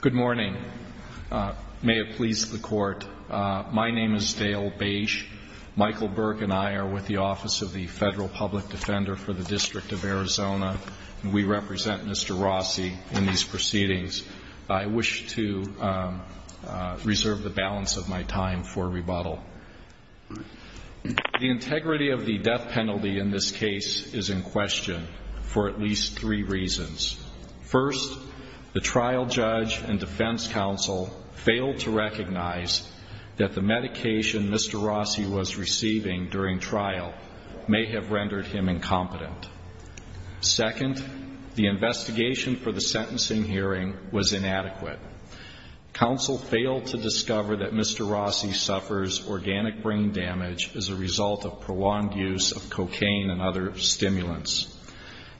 Good morning. May it please the Court, my name is Dale Bache. Michael Burke and I are with the Office of the Federal Public Defender for the District of Arizona. We represent Mr. Rossi in these proceedings. I wish to reserve the balance of my time for rebuttal. The integrity of the death penalty in this case is in question for at least three reasons. First, the trial judge and defense counsel failed to recognize that the medication Mr. Rossi was receiving during trial may have rendered him incompetent. Second, the investigation for the sentencing hearing was inadequate. Counsel failed to discover that Mr. Rossi suffers organic brain damage as a result of prolonged use of cocaine and other stimulants.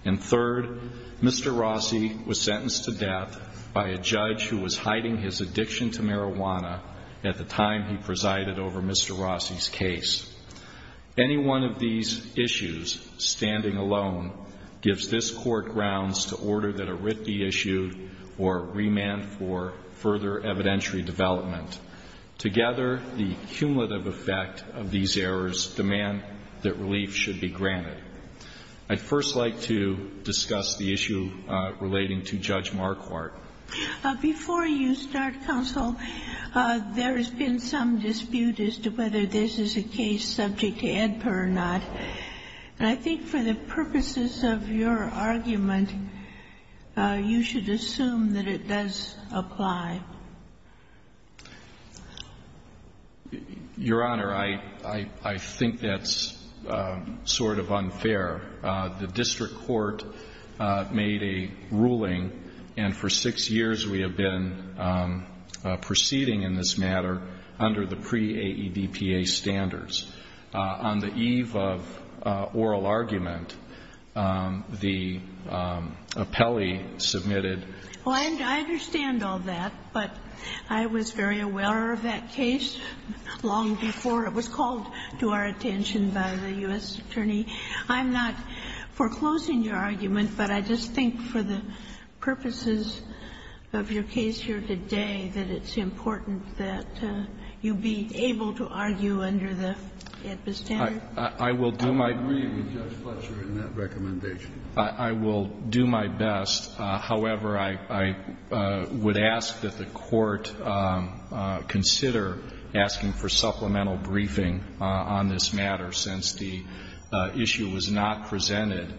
And third, Mr. Rossi was sentenced to death by a judge who was hiding his addiction to marijuana at the time he presided over Mr. Rossi's case. Any one of these issues, standing alone, gives this Court grounds to order that a writ be issued or remand for further evidentiary development. Together, the cumulative effect of these errors demand that relief should be granted. I'd first like to discuss the issue relating to Judge Marquardt. Before you start, counsel, there has been some dispute as to whether this is a case subject to AEDPA or not. And I think for the purposes of your argument, you should assume that it does apply. Your Honor, I think that's sort of unfair. The district court made a ruling, and for six years we have been proceeding in this matter under the pre-AEDPA standards. On the eve of oral argument, the appellee submitted. Well, I understand all that, but I was very aware of that case long before it was called to our attention by the U.S. attorney. I'm not foreclosing your argument, but I just think for the purposes of your case here today that it's important that you be able to argue under the AEDPA standards. I will do my best. I agree with Judge Fletcher in that recommendation. I will do my best. However, I would ask that the Court consider asking for supplemental briefing on this matter, since the issue was not presented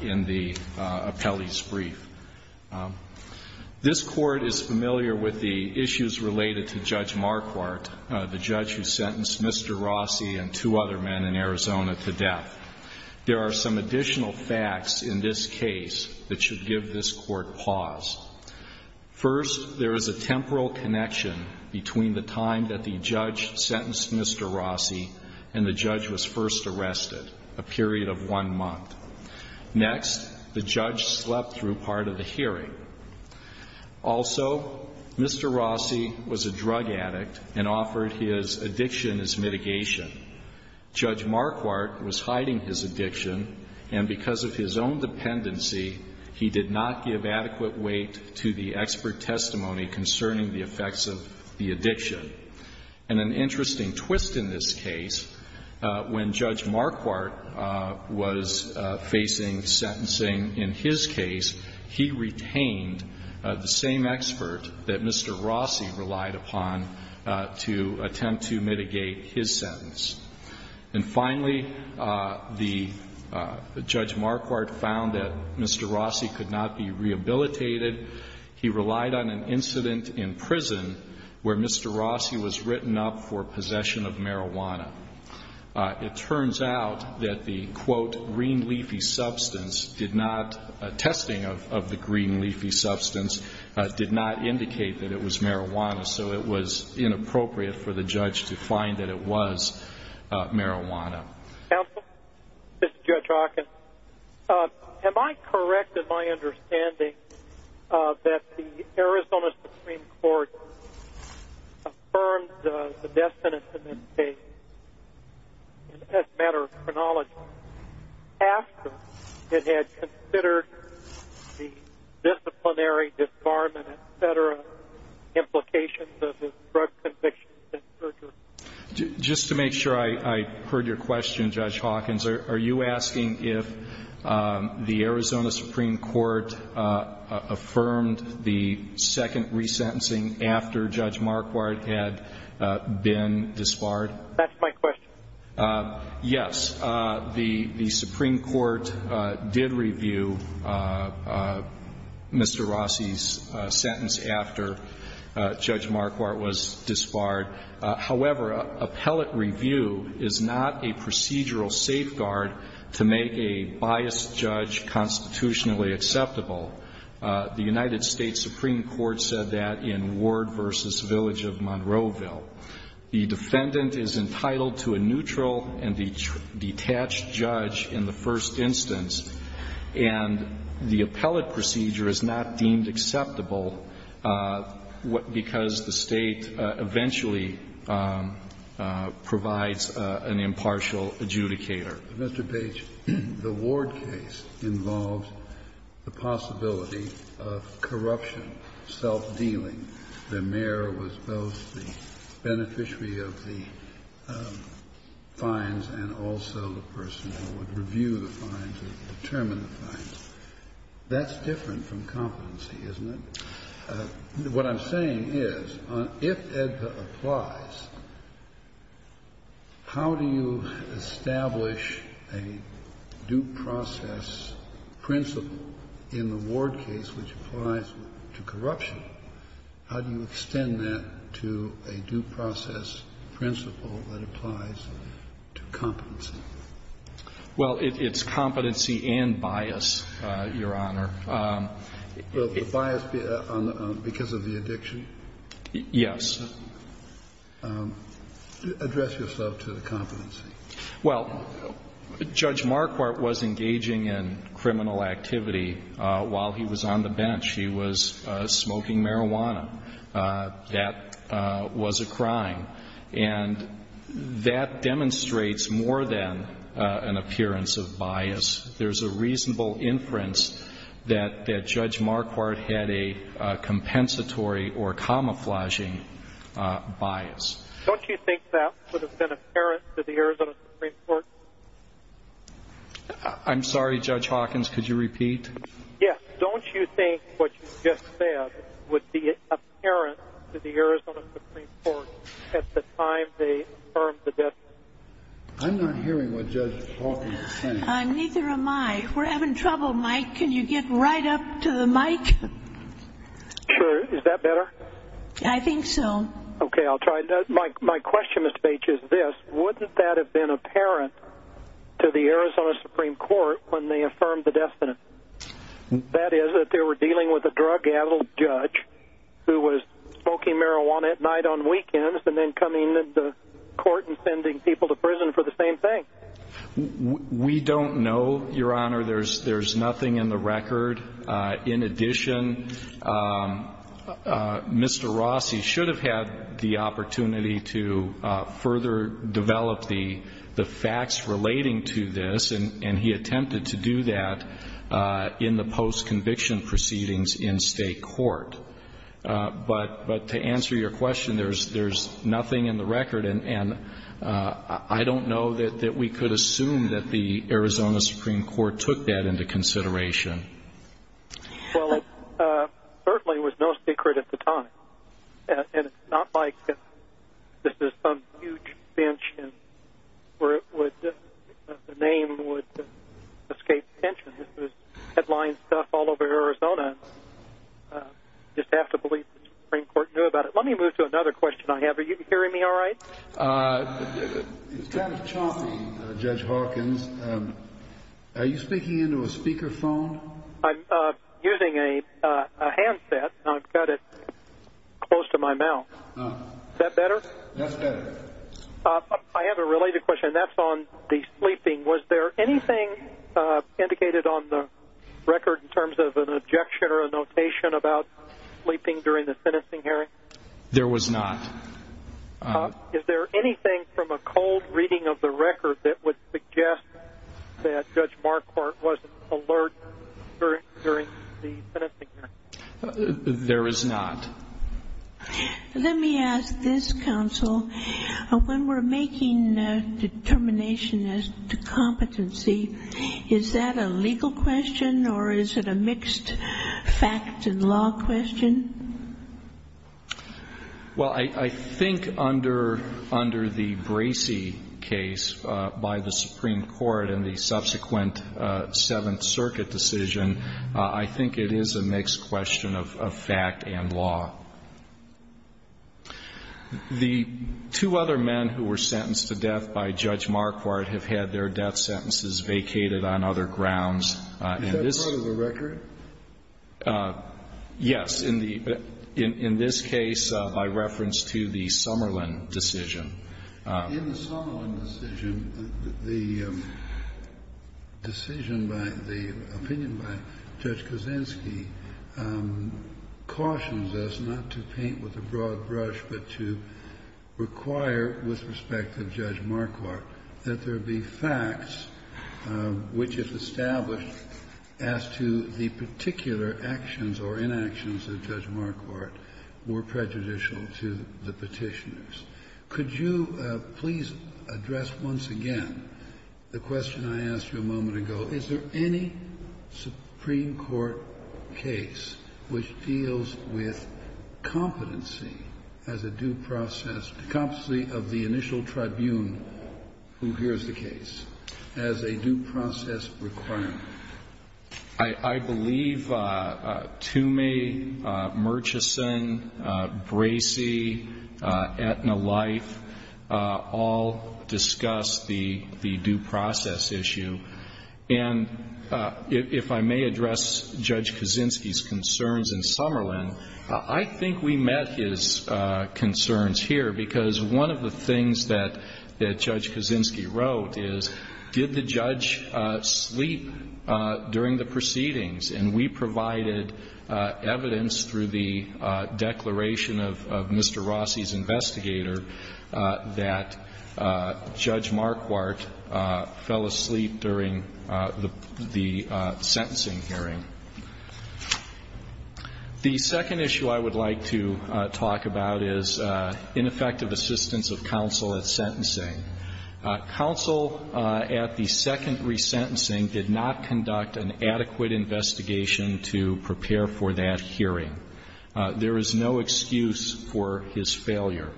in the appellee's brief. This Court is familiar with the issues related to Judge Marquardt, the judge who sentenced Mr. Rossi and two other men in Arizona to death. There are some additional facts in this case that should give this Court pause. First, there is a temporal connection between the time that the judge sentenced Mr. Rossi and the judge was first arrested, a period of one month. Next, the judge slept through part of the hearing. Also, Mr. Rossi was a drug addict and offered his addiction as mitigation. Judge Marquardt was hiding his addiction, and because of his own dependency, he did not give adequate weight to the expert testimony concerning the effects of the addiction. And an interesting twist in this case, when Judge Marquardt was facing sentencing in his case, he retained the same expert that Mr. Rossi relied upon to attempt to mitigate his sentence. And finally, Judge Marquardt found that Mr. Rossi could not be rehabilitated. He relied on an incident in prison where Mr. Rossi was written up for possession of marijuana. It turns out that the, quote, green leafy substance did not, testing of the green leafy substance did not indicate that it was marijuana, so it was inappropriate for the judge to find that it was marijuana. Counsel, this is Judge Rockin. Am I correct in my understanding that the Arizona Supreme Court affirmed the death sentence in this case as a matter of chronology after it had considered the disciplinary disbarment, et cetera, implications of his drug convictions and searches? Just to make sure I heard your question, Judge Hawkins, are you asking if the Arizona Supreme Court affirmed the second resentencing after Judge Marquardt had been disbarred? That's my question. Yes, the Supreme Court did review Mr. Rossi's sentence after Judge Marquardt was disbarred. However, appellate review is not a procedural safeguard to make a biased judge constitutionally acceptable. The United States Supreme Court said that in Ward v. Village of Monroeville. The defendant is entitled to a neutral and detached judge in the first instance, and the appellate procedure is not deemed acceptable because the State eventually provides an impartial adjudicator. Mr. Page, the Ward case involves the possibility of corruption, self-dealing. The mayor was both the beneficiary of the fines and also the person who would review the fines or determine the fines. That's different from competency, isn't it? What I'm saying is, if AEDPA applies, how do you establish a due process principle in the Ward case which applies to corruption and self-dealing? How do you extend that to a due process principle that applies to competency? Well, it's competency and bias, Your Honor. Will the bias be because of the addiction? Yes. Address yourself to the competency. Well, Judge Marquardt was engaging in criminal activity while he was on the bench. He was smoking marijuana. That was a crime, and that demonstrates more than an appearance of bias. There's a reasonable inference that Judge Marquardt had a compensatory or camouflaging bias. Don't you think that would have been apparent to the Arizona Supreme Court? I'm sorry, Judge Hawkins, could you repeat? Yes. Don't you think what you just said would be apparent to the Arizona Supreme Court at the time they affirmed the death sentence? I'm not hearing what Judge Hawkins is saying. Neither am I. We're having trouble, Mike. Can you get right up to the mic? Sure. I think so. Okay, I'll try. My question, Mr. Bates, is this. to the Arizona Supreme Court when they affirmed the death sentence? That is, that they were dealing with a drug-addled judge who was smoking marijuana at night on weekends and then coming to court and sending people to prison for the same thing? We don't know, Your Honor. There's nothing in the record. In addition, Mr. Rossi should have had the opportunity to further develop the facts relating to this, and he attempted to do that in the post-conviction proceedings in state court. But to answer your question, there's nothing in the record, and I don't know that we could assume that the Arizona Supreme Court took that into consideration. Well, it certainly was no secret at the time, and it's not like this is some huge bench where the name would escape attention. This was headline stuff all over Arizona. You just have to believe the Supreme Court knew about it. Let me move to another question I have. Are you hearing me all right? It's kind of choppy, Judge Hawkins. Are you speaking into a speakerphone? I'm using a handset, and I've got it close to my mouth. Is that better? That's better. I have a related question, and that's on the sleeping. Was there anything indicated on the record in terms of an objection or a notation about sleeping during the sentencing hearing? There was not. Is there anything from a cold reading of the record that would suggest that Judge Marquardt wasn't alert during the sentencing hearing? There is not. Let me ask this, counsel. When we're making a determination as to competency, is that a legal question or is it a mixed fact and law question? Well, I think under the Bracey case by the Supreme Court and the subsequent Seventh Circuit decision, I think it is a mixed question of fact and law. The two other men who were sentenced to death by Judge Marquardt have had their death sentences vacated on other grounds. Is that part of the record? Yes. In this case, by reference to the Summerlin decision. In the Summerlin decision, the decision by the opinion by Judge Kuczynski cautions us not to paint with a broad brush but to require with respect to Judge Marquardt that there be facts which if established as to the particular actions or inactions of Judge Marquardt were prejudicial to the Petitioners. Could you please address once again the question I asked you a moment ago. So is there any Supreme Court case which deals with competency as a due process, competency of the initial tribune who hears the case as a due process requirement? I believe Toomey, Murchison, Bracey, Aetna-Leif all discussed the due process issue. And if I may address Judge Kuczynski's concerns in Summerlin, I think we met his concerns here because one of the things that Judge Kuczynski wrote is did the judge sleep during the proceedings? And we provided evidence through the declaration of Mr. Rossi's investigator that Judge Marquardt fell asleep during the sentencing hearing. The second issue I would like to talk about is ineffective assistance of counsel at sentencing. Counsel at the second resentencing did not conduct an adequate investigation to prepare for that hearing. There is no excuse for his failure.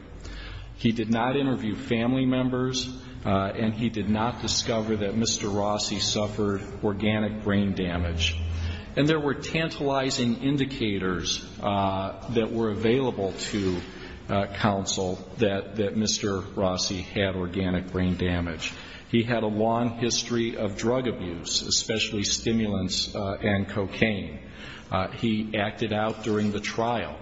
He did not interview family members, and he did not discover that Mr. Rossi suffered organic brain damage. And there were tantalizing indicators that were available to counsel that Mr. Rossi had organic brain damage. He had a long history of drug abuse, especially stimulants and cocaine. He acted out during the trial.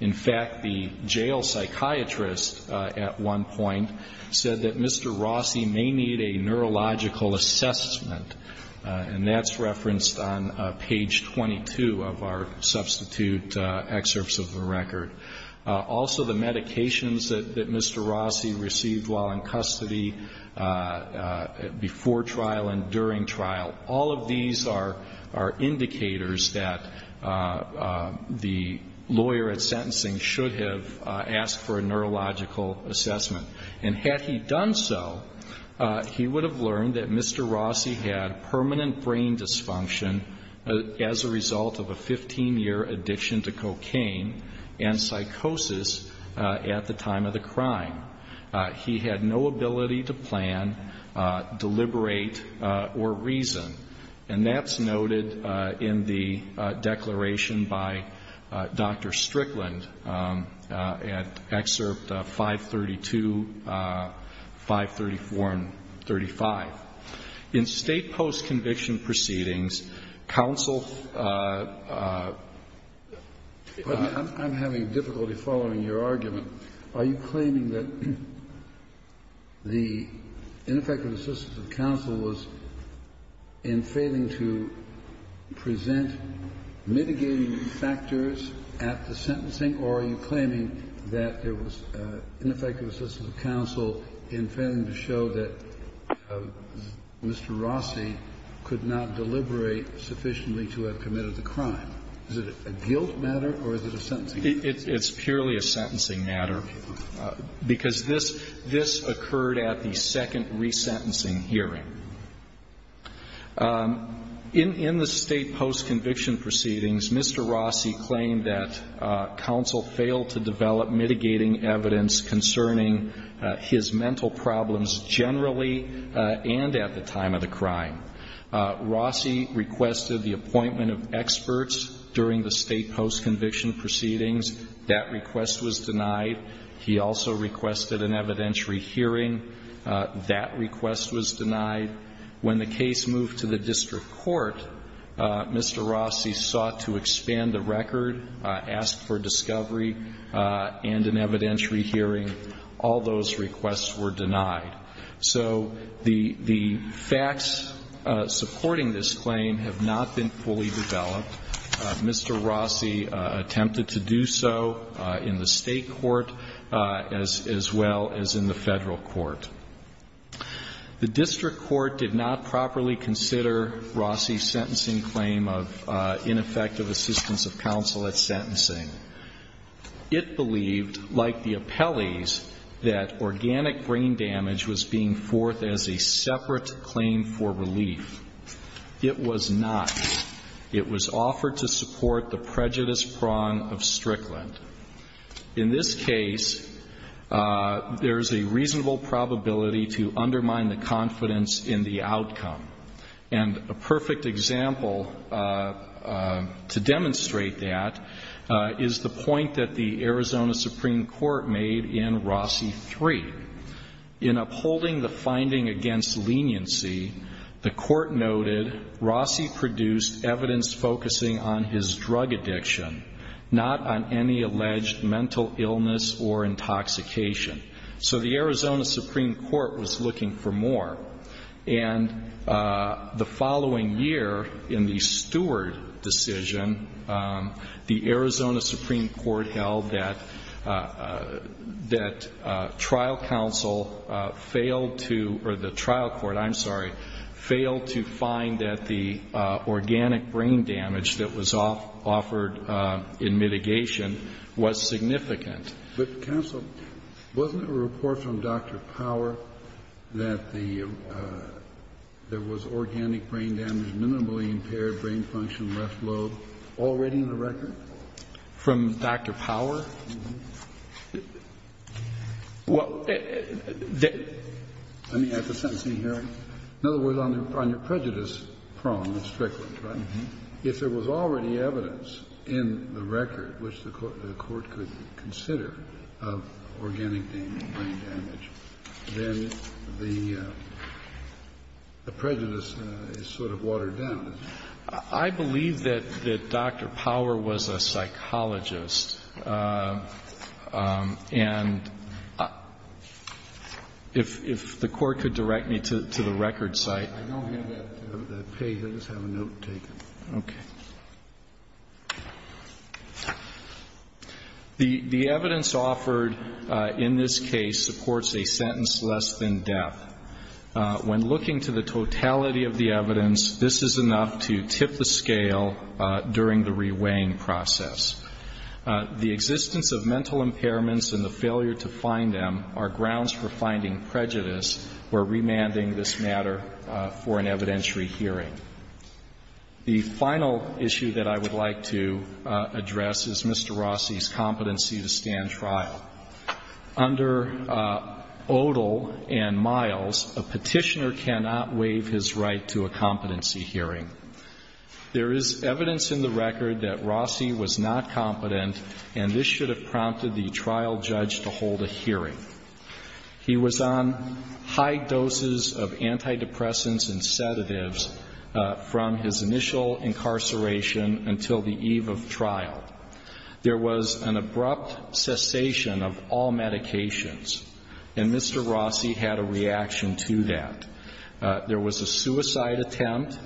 In fact, the jail psychiatrist at one point said that Mr. Rossi may need a neurological assessment, and that's referenced on page 22 of our substitute excerpts of the record. Also, the medications that Mr. Rossi received while in custody before trial and during trial, all of these are indicators that the lawyer at sentencing should have asked for a neurological assessment. And had he done so, he would have learned that Mr. Rossi had permanent brain dysfunction as a result of a 15-year addiction to cocaine and psychosis at the time of the crime. He had no ability to plan, deliberate, or reason. And that's noted in the declaration by Dr. Strickland at excerpt 532, 534, and 35. In State post-conviction proceedings, counsel ---- The ineffective assistance of counsel was in failing to present mitigating factors at the sentencing, or are you claiming that there was ineffective assistance of counsel in failing to show that Mr. Rossi could not deliberate sufficiently to have committed the crime? Is it a guilt matter, or is it a sentencing matter? It's purely a sentencing matter, because this occurred at the second resentencing hearing. In the State post-conviction proceedings, Mr. Rossi claimed that counsel failed to develop mitigating evidence concerning his mental problems generally and at the time of the crime. Rossi requested the appointment of experts during the State post-conviction proceedings. That request was denied. He also requested an evidentiary hearing. That request was denied. When the case moved to the district court, Mr. Rossi sought to expand the record, ask for discovery, and an evidentiary hearing. All those requests were denied. So the facts supporting this claim have not been fully developed. Mr. Rossi attempted to do so in the State court as well as in the Federal court. The district court did not properly consider Rossi's sentencing claim of ineffective assistance of counsel at sentencing. It believed, like the appellees, that organic brain damage was being forth as a separate claim for relief. It was not. It was offered to support the prejudice prong of Strickland. In this case, there is a reasonable probability to undermine the confidence in the outcome. And a perfect example to demonstrate that is the point that the Arizona Supreme Court made in Rossi 3. In upholding the finding against leniency, the court noted, Rossi produced evidence focusing on his drug addiction, not on any alleged mental illness or intoxication. So the Arizona Supreme Court was looking for more. And the following year, in the Stewart decision, the Arizona Supreme Court held that trial counsel failed to, or the trial court, I'm sorry, failed to find that the organic brain damage that was offered in mitigation was significant. But, counsel, wasn't there a report from Dr. Power that there was organic brain damage, minimally impaired brain function, left lobe, already in the record? From Dr. Power? Well, that's a sentencing hearing. In other words, on your prejudice prong of Strickland, right? Yes. If there was already evidence in the record which the court could consider of organic brain damage, then the prejudice is sort of watered down. I believe that Dr. Power was a psychologist. And if the Court could direct me to the record site. I don't have that page. I just have a note taken. Okay. The evidence offered in this case supports a sentence less than death. When looking to the totality of the evidence, this is enough to tip the scale during the reweighing process. The existence of mental impairments and the failure to find them are grounds for finding prejudice or remanding this matter for an evidentiary hearing. The final issue that I would like to address is Mr. Rossi's competency to stand trial. Under Odle and Miles, a Petitioner cannot waive his right to a competency hearing. There is evidence in the record that Rossi was not competent, and this should have prompted the trial judge to hold a hearing. He was on high doses of antidepressants and sedatives from his initial incarceration until the eve of trial. There was an abrupt cessation of all medications, and Mr. Rossi had a reaction to that. There was a suicide attempt,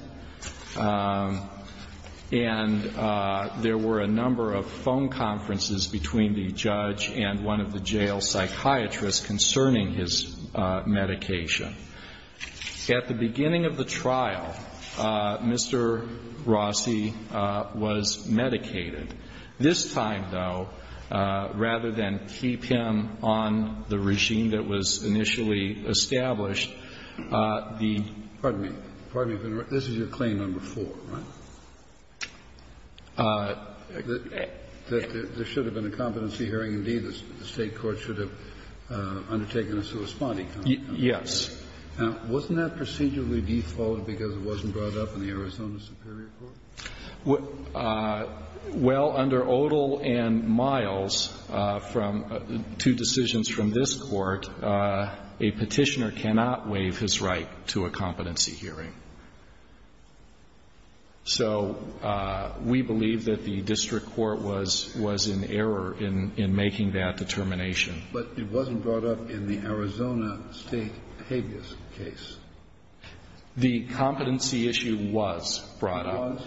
and there were a number of phone conferences between the judge and one of the jail psychiatrists concerning his medication. At the beginning of the trial, Mr. Rossi was medicated. This time, though, rather than keep him on the regime that was initially established, the ---- Kennedy, this is your claim number four, right? That there should have been a competency hearing. Indeed, the State court should have undertaken a sui spondi. Yes. Now, wasn't that procedurally defaulted because it wasn't brought up in the Arizona Superior Court? Well, under Odle and Miles, from two decisions from this Court, a Petitioner cannot waive his right to a competency hearing. So we believe that the district court was in error in making that determination. But it wasn't brought up in the Arizona State habeas case. The competency issue was brought up.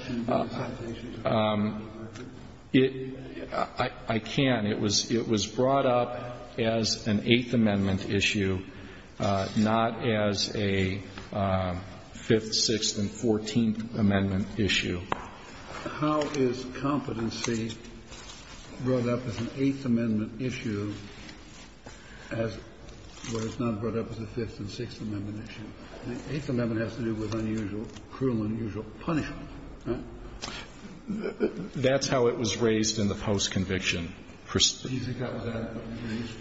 It was. It was brought up as an Eighth Amendment issue, not as a Fifth Amendment issue. It was brought up as a Fifth, Sixth, and Fourteenth Amendment issue. How is competency brought up as an Eighth Amendment issue as where it's not brought up as a Fifth and Sixth Amendment issue? The Eighth Amendment has to do with unusual, cruel, unusual punishment, right? That's how it was raised in the post-conviction perspective. Do you think that was unusual?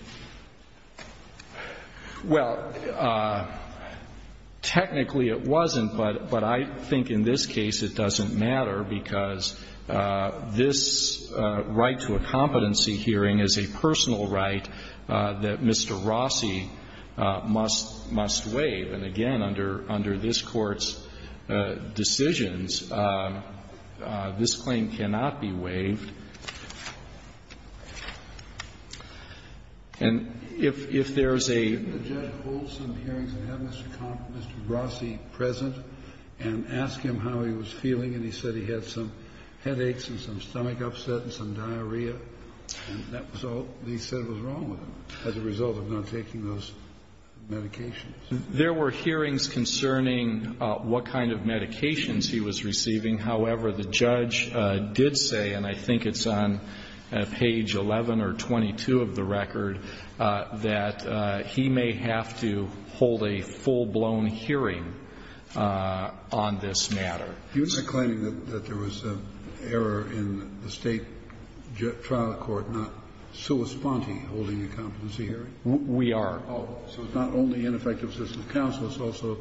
Well, technically it wasn't, but I think in this case it doesn't matter because this right to a competency hearing is a personal right that Mr. Rossi must waive. And again, under this Court's decisions, this claim cannot be waived. And if there's a ---- Didn't the judge hold some hearings and have Mr. Rossi present and ask him how he was feeling, and he said he had some headaches and some stomach upset and some diarrhea and that was all he said was wrong with him as a result of not taking those medications? There were hearings concerning what kind of medications he was receiving. However, the judge did say, and I think it's on page 11 or 22 of the record, that he may have to hold a full-blown hearing on this matter. You're not claiming that there was an error in the State trial court not sua sponte holding a competency hearing? We are. Oh. So it's not only ineffective system of counsel. It's also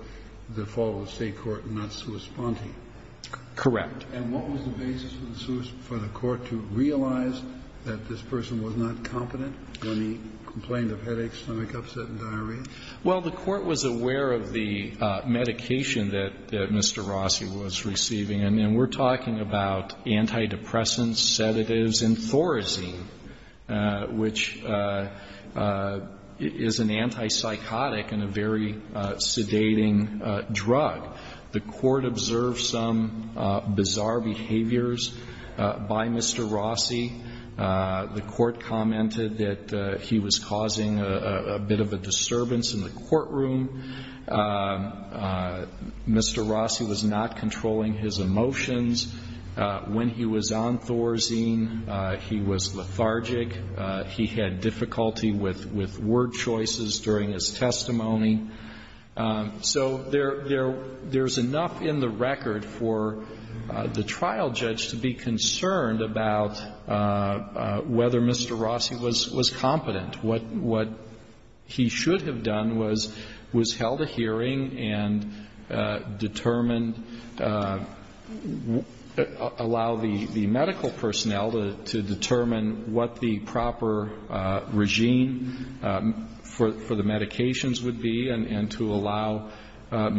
the fault of the State court not sua sponte. Correct. And what was the basis for the court to realize that this person was not competent when he complained of headaches, stomach upset and diarrhea? Well, the court was aware of the medication that Mr. Rossi was receiving. And we're talking about antidepressants, sedatives and Thorazine, which is an antipsychotic and a very sedating drug. The court observed some bizarre behaviors by Mr. Rossi. The court commented that he was causing a bit of a disturbance in the courtroom. Mr. Rossi was not controlling his emotions. When he was on Thorazine, he was lethargic. He had difficulty with word choices during his testimony. So there's enough in the record for the trial judge to be concerned about whether Mr. Rossi was competent. What he should have done was held a hearing and determined, allow the medical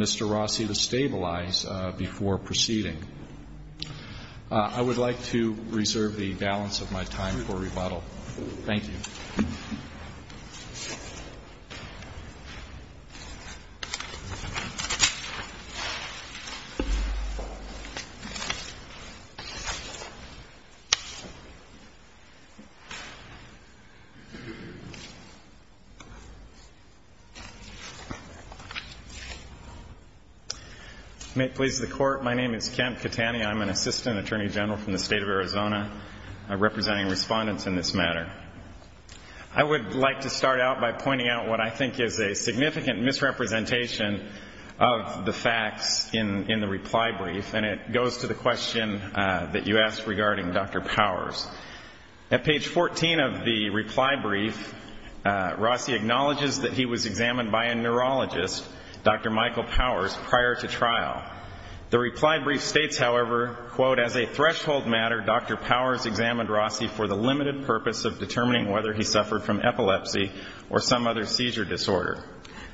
Mr. Rossi to stabilize before proceeding. I would like to reserve the balance of my time for rebuttal. Thank you. May it please the Court. My name is Kemp Catani. I'm an Assistant Attorney General from the State of Arizona. I'm representing respondents in this matter. I would like to start out by pointing out what I think is a significant misrepresentation of the facts in the reply brief, and it goes to the question that you asked regarding Dr. Powers. At page 14 of the reply brief, Rossi acknowledges that he was examined by a neurologist, Dr. Michael Powers, prior to trial. The reply brief states, however, quote, as a threshold matter Dr. Powers examined Rossi for the limited purpose of determining whether he suffered from epilepsy or some other seizure disorder.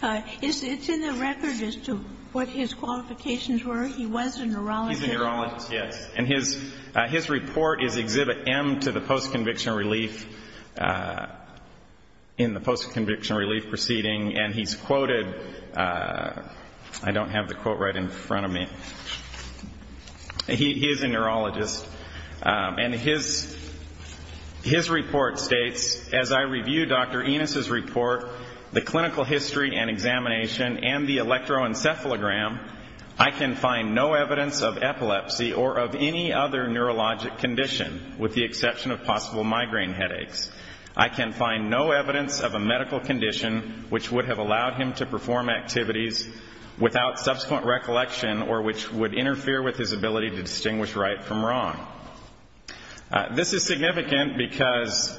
It's in the record as to what his qualifications were. He was a neurologist. He's a neurologist, yes. And his report is Exhibit M to the Post-Conviction Relief, in the Post-Conviction Relief Proceeding, and he's quoted, I don't have the quote right in front of me. He is a neurologist, and his report states, As I review Dr. Enos's report, the clinical history and examination, and the electroencephalogram, I can find no evidence of epilepsy or of any other neurologic condition, with the exception of possible migraine headaches. I can find no evidence of a medical condition which would have allowed him to perform activities without subsequent recollection or which would interfere with his ability to distinguish right from wrong. This is significant because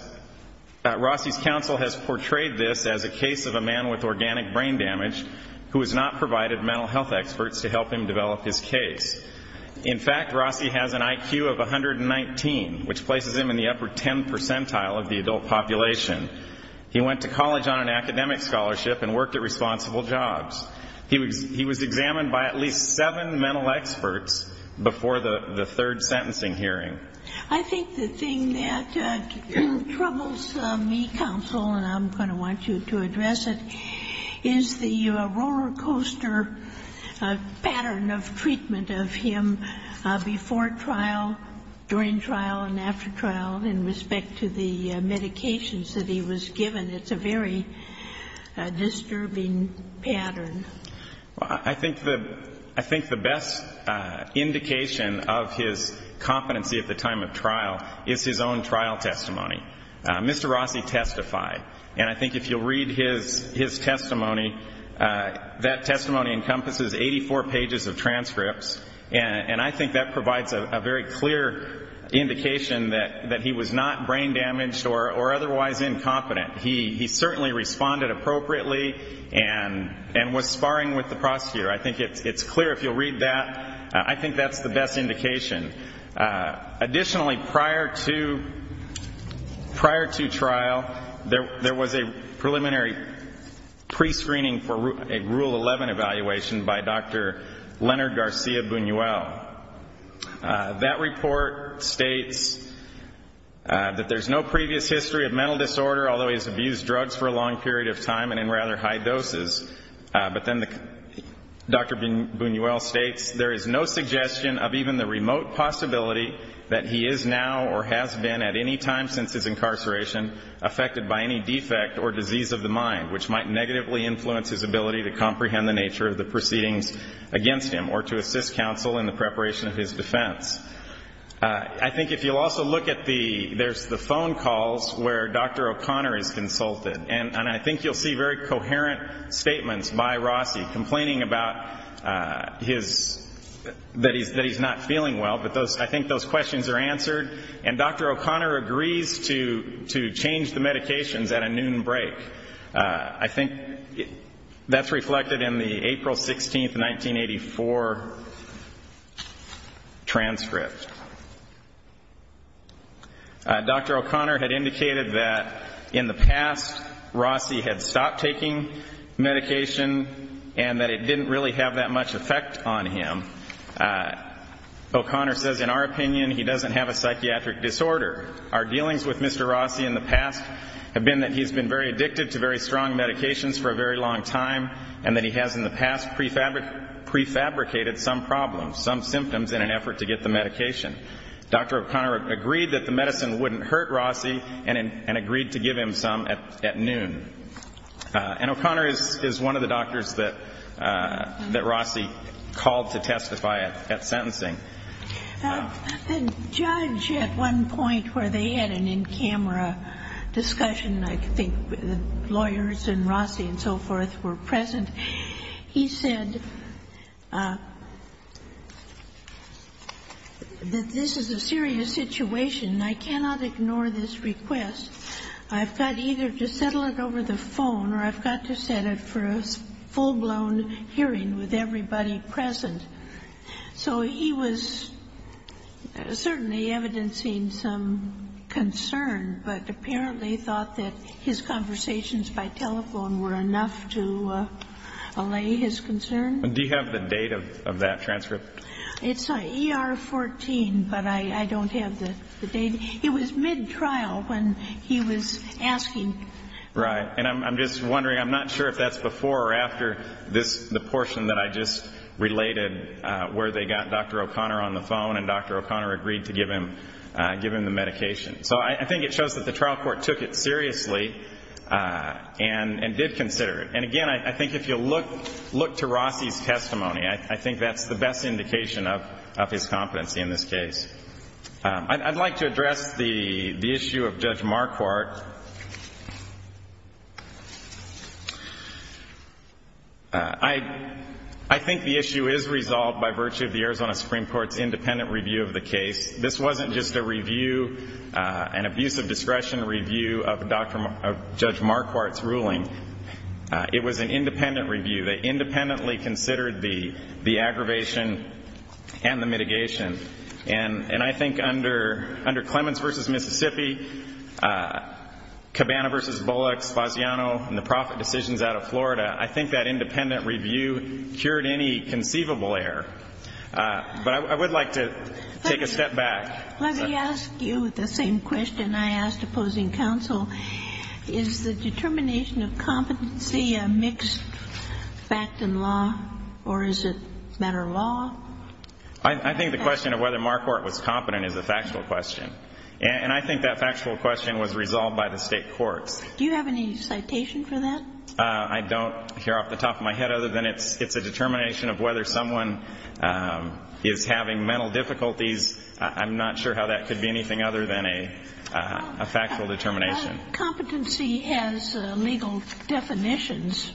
Rossi's counsel has portrayed this as a case of a man with organic brain damage who has not provided mental health experts to help him develop his case. In fact, Rossi has an IQ of 119, which places him in the upper ten percentile of the adult population. He went to college on an academic scholarship and worked at responsible jobs. He was examined by at least seven mental experts before the third sentencing hearing. I think the thing that troubles me, counsel, and I'm going to want you to address it, is the roller coaster pattern of treatment of him before trial, during trial, and after trial, in respect to the medications that he was given. It's a very disturbing pattern. Well, I think the best indication of his competency at the time of trial is his own trial testimony. Mr. Rossi testified, and I think if you'll read his testimony, that testimony encompasses 84 pages of transcripts, and I think that provides a very clear indication that he was not brain damaged or otherwise incompetent. He certainly responded appropriately and was sparring with the prosecutor. I think it's clear if you'll read that. I think that's the best indication. Additionally, prior to trial, there was a preliminary prescreening for a Rule 11 evaluation by Dr. Leonard Garcia Buñuel. That report states that there's no previous history of mental disorder, although he's abused drugs for a long period of time and in rather high doses. But then Dr. Buñuel states, there is no suggestion of even the remote possibility that he is now or has been at any time since his incarceration affected by any defect or disease of the mind, which might negatively influence his ability to comprehend the nature of the proceedings against him or to assist counsel in the preparation of his defense. I think if you'll also look at the phone calls where Dr. O'Connor is consulted, and I think you'll see very coherent statements by Rossi complaining that he's not feeling well, but I think those questions are answered. And Dr. O'Connor agrees to change the medications at a noon break. I think that's reflected in the April 16, 1984, transcript. Dr. O'Connor had indicated that in the past Rossi had stopped taking medication and that it didn't really have that much effect on him. O'Connor says, in our opinion, he doesn't have a psychiatric disorder. Our dealings with Mr. Rossi in the past have been that he's been very addicted to very strong medications for a very long time and that he has in the past prefabricated some problems, some symptoms in an effort to get the medication. Dr. O'Connor agreed that the medicine wouldn't hurt Rossi and agreed to give him some at noon. And O'Connor is one of the doctors that Rossi called to testify at sentencing. The judge at one point where they had an in-camera discussion, I think the lawyers and Rossi and so forth were present, he said that this is a serious situation and I cannot ignore this request. I've got either to settle it over the phone or I've got to set it for a full-blown hearing with everybody present. So he was certainly evidencing some concern, but apparently thought that his conversations by telephone were enough to allay his concern. Do you have the date of that transcript? It's ER 14, but I don't have the date. It was mid-trial when he was asking. Right. And I'm just wondering, I'm not sure if that's before or after the portion that I just related where they got Dr. O'Connor on the phone and Dr. O'Connor agreed to give him the medication. So I think it shows that the trial court took it seriously and did consider it. And, again, I think if you look to Rossi's testimony, I think that's the best indication of his competency in this case. I'd like to address the issue of Judge Marquardt. I think the issue is resolved by virtue of the Arizona Supreme Court's independent review of the case. This wasn't just a review, an abuse of discretion review of Judge Marquardt's ruling. It was an independent review. They independently considered the aggravation and the mitigation. And I think under Clemens v. Mississippi, Cabana v. Bullock, Spaziano, and the profit decisions out of Florida, I think that independent review cured any conceivable error. But I would like to take a step back. Let me ask you the same question I asked opposing counsel. Is the determination of competency a mixed fact in law, or is it matter of law? I think the question of whether Marquardt was competent is a factual question. And I think that factual question was resolved by the state courts. Do you have any citation for that? I don't here off the top of my head, other than it's a determination of whether someone is having mental difficulties. I'm not sure how that could be anything other than a factual determination. Competency has legal definitions,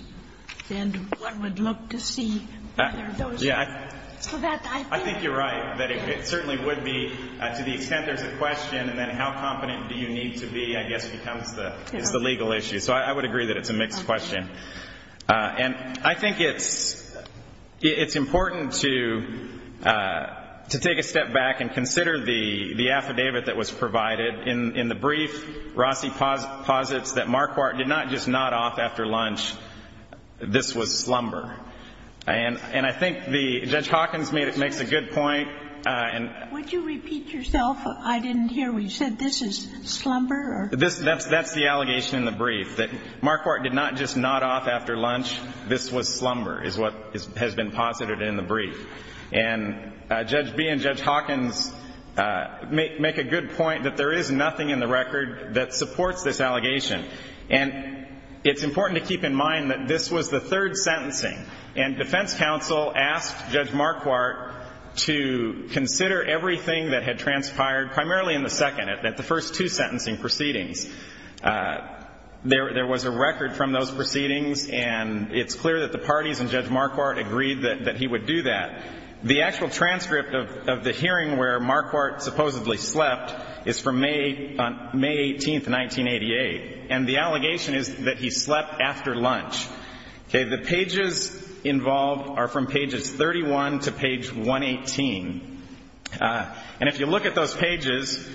and one would look to see whether those are correct. I think you're right, that it certainly would be. To the extent there's a question, and then how competent do you need to be, I guess, becomes the legal issue. So I would agree that it's a mixed question. And I think it's important to take a step back and consider the affidavit that was provided. In the brief, Rossi posits that Marquardt did not just nod off after lunch, this was slumber. And I think Judge Hawkins makes a good point. Would you repeat yourself? I didn't hear what you said. This is slumber? That's the allegation in the brief, that Marquardt did not just nod off after lunch, this was slumber, is what has been posited in the brief. And Judge Bee and Judge Hawkins make a good point that there is nothing in the record that supports this allegation. And it's important to keep in mind that this was the third sentencing, and defense counsel asked Judge Marquardt to consider everything primarily in the second, at the first two sentencing proceedings. There was a record from those proceedings, and it's clear that the parties and Judge Marquardt agreed that he would do that. The actual transcript of the hearing where Marquardt supposedly slept is from May 18th, 1988. And the allegation is that he slept after lunch. The pages involved are from pages 31 to page 118. And if you look at those pages,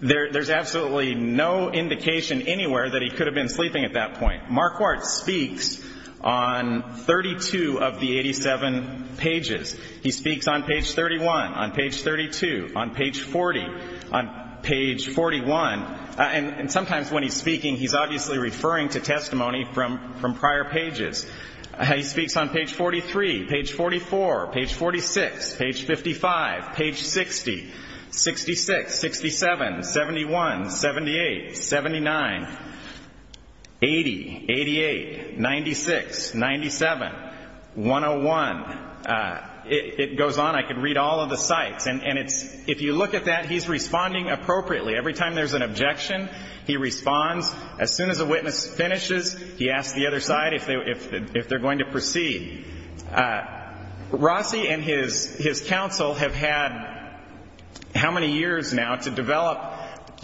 there's absolutely no indication anywhere that he could have been sleeping at that point. Marquardt speaks on 32 of the 87 pages. He speaks on page 31, on page 32, on page 40, on page 41. And sometimes when he's speaking, he's obviously referring to testimony from prior pages. He speaks on page 43, page 44, page 46, page 55, page 60, 66, 67, 71, 78, 79, 80, 88, 96, 97, 101. It goes on. I could read all of the sites. And if you look at that, he's responding appropriately. Every time there's an objection, he responds. As soon as a witness finishes, he asks the other side if they're going to proceed. Rossi and his counsel have had how many years now to develop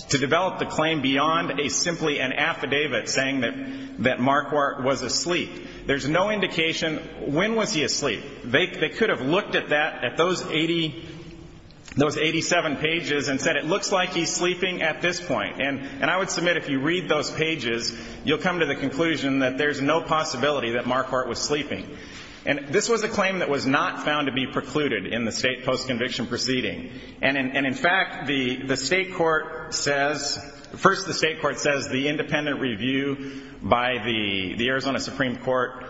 the claim beyond simply an affidavit saying that Marquardt was asleep. There's no indication when was he asleep. They could have looked at that, at those 87 pages, and said it looks like he's sleeping at this point. And I would submit if you read those pages, you'll come to the conclusion that there's no possibility that Marquardt was sleeping. And this was a claim that was not found to be precluded in the state post-conviction proceeding. And, in fact, the state court says the independent review by the Arizona Supreme Court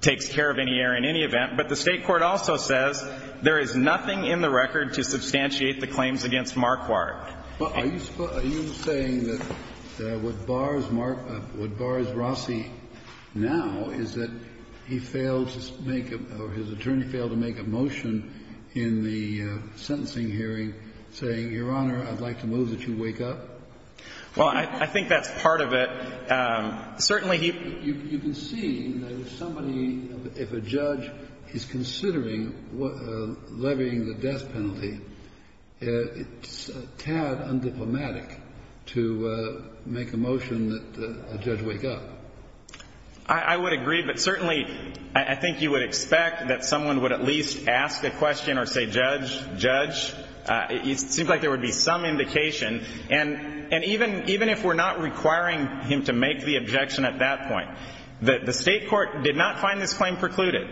takes care of any error in any event. But the state court also says there is nothing in the record to substantiate the claims against Marquardt. Are you saying that what bars Marquardt, what bars Rossi now is that he failed to make a or his attorney failed to make a motion in the sentencing hearing saying, Your Honor, I'd like to move that you wake up? Well, I think that's part of it. You can see that if somebody, if a judge is considering levying the death penalty, it's a tad undiplomatic to make a motion that a judge wake up. I would agree, but certainly I think you would expect that someone would at least ask a question or say, Judge, Judge. It seems like there would be some indication. And even if we're not requiring him to make the objection at that point, the state court did not find this claim precluded,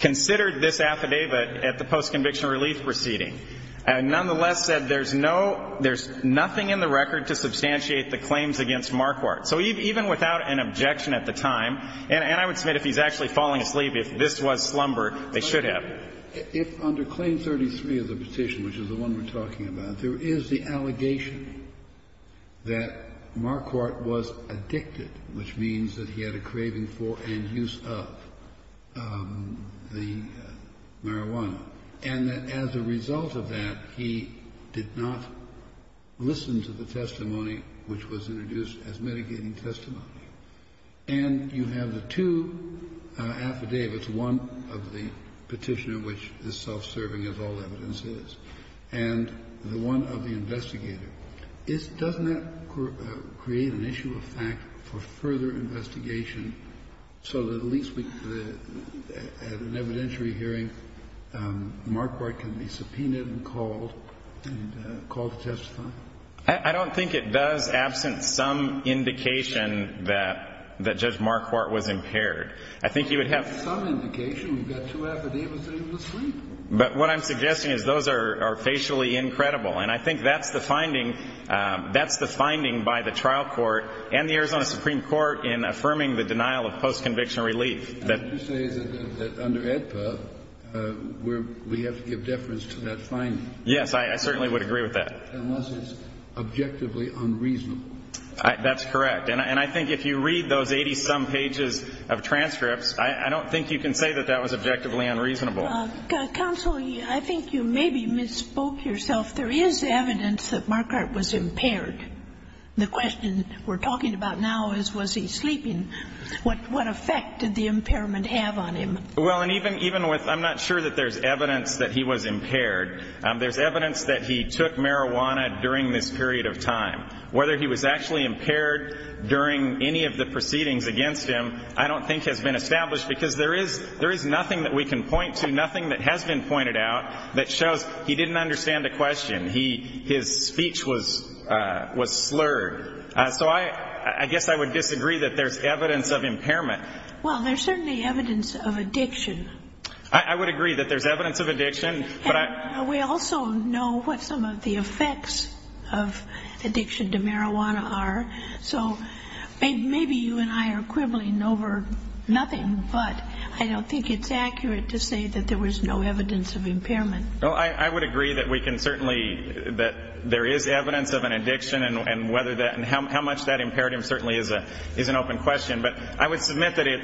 considered this affidavit at the post-conviction relief proceeding, and nonetheless said there's no, there's nothing in the record to substantiate the claims against Marquardt. So even without an objection at the time, and I would submit if he's actually falling asleep, if this was slumber, they should have. If under claim 33 of the petition, which is the one we're talking about, there is the allegation that Marquardt was addicted, which means that he had a craving for and use of the marijuana, and that as a result of that, he did not listen to the testimony which was introduced as mitigating testimony, and you have the two affidavits, one of the petitioner, which is self-serving, as all evidence is, and the one of the investigator. Doesn't that create an issue of fact for further investigation so that at least at an evidentiary hearing, Marquardt can be subpoenaed and called to testify? I don't think it does absent some indication that Judge Marquardt was impaired. I think you would have some indication. We've got two affidavits that he was asleep. But what I'm suggesting is those are facially incredible, and I think that's the finding. That's the finding by the trial court and the Arizona Supreme Court in affirming the denial of post-conviction relief. And you say that under AEDPA, we have to give deference to that finding. Yes, I certainly would agree with that. Unless it's objectively unreasonable. That's correct. And I think if you read those 80-some pages of transcripts, I don't think you can say that that was objectively unreasonable. Counsel, I think you maybe misspoke yourself. There is evidence that Marquardt was impaired. The question we're talking about now is was he sleeping. What effect did the impairment have on him? Well, and even with ñ I'm not sure that there's evidence that he was impaired. There's evidence that he took marijuana during this period of time. Whether he was actually impaired during any of the proceedings against him I don't think has been established because there is nothing that we can point to, nothing that has been pointed out that shows he didn't understand the question. His speech was slurred. So I guess I would disagree that there's evidence of impairment. Well, there's certainly evidence of addiction. I would agree that there's evidence of addiction. We also know what some of the effects of addiction to marijuana are. So maybe you and I are quibbling over nothing, but I don't think it's accurate to say that there was no evidence of impairment. Well, I would agree that we can certainly ñ that there is evidence of an addiction and whether that ñ and how much that impaired him certainly is an open question. But I would submit that it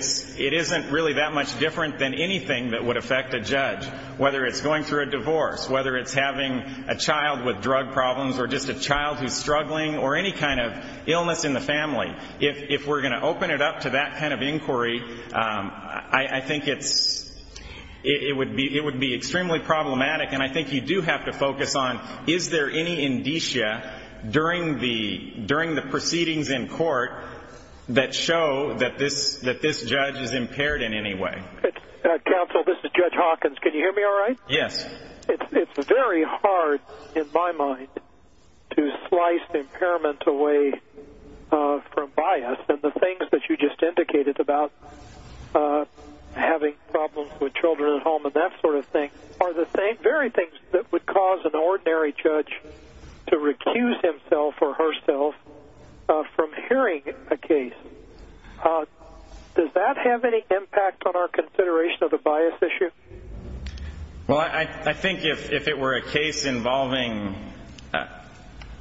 isn't really that much different than anything that would affect a judge, whether it's going through a divorce, whether it's having a child with drug problems or just a child who's struggling or any kind of illness in the family. If we're going to open it up to that kind of inquiry, I think it would be extremely problematic. And I think you do have to focus on is there any indicia during the proceedings in court that show that this judge is impaired in any way. Counsel, this is Judge Hawkins. Can you hear me all right? Yes. It's very hard in my mind to slice impairment away from bias. And the things that you just indicated about having problems with children at home and that sort of thing are the same very things that would cause an ordinary judge to recuse himself or herself from hearing a case. Does that have any impact on our consideration of the bias issue? Well, I think if it were a case involving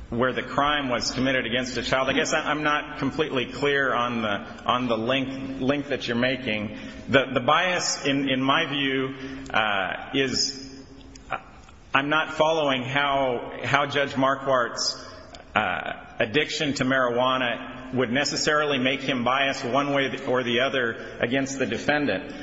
where the crime was committed against a child, I guess I'm not completely clear on the link that you're making. The bias, in my view, is I'm not following how Judge Marquardt's addiction to marijuana would necessarily make him biased one way or the other against the defendant.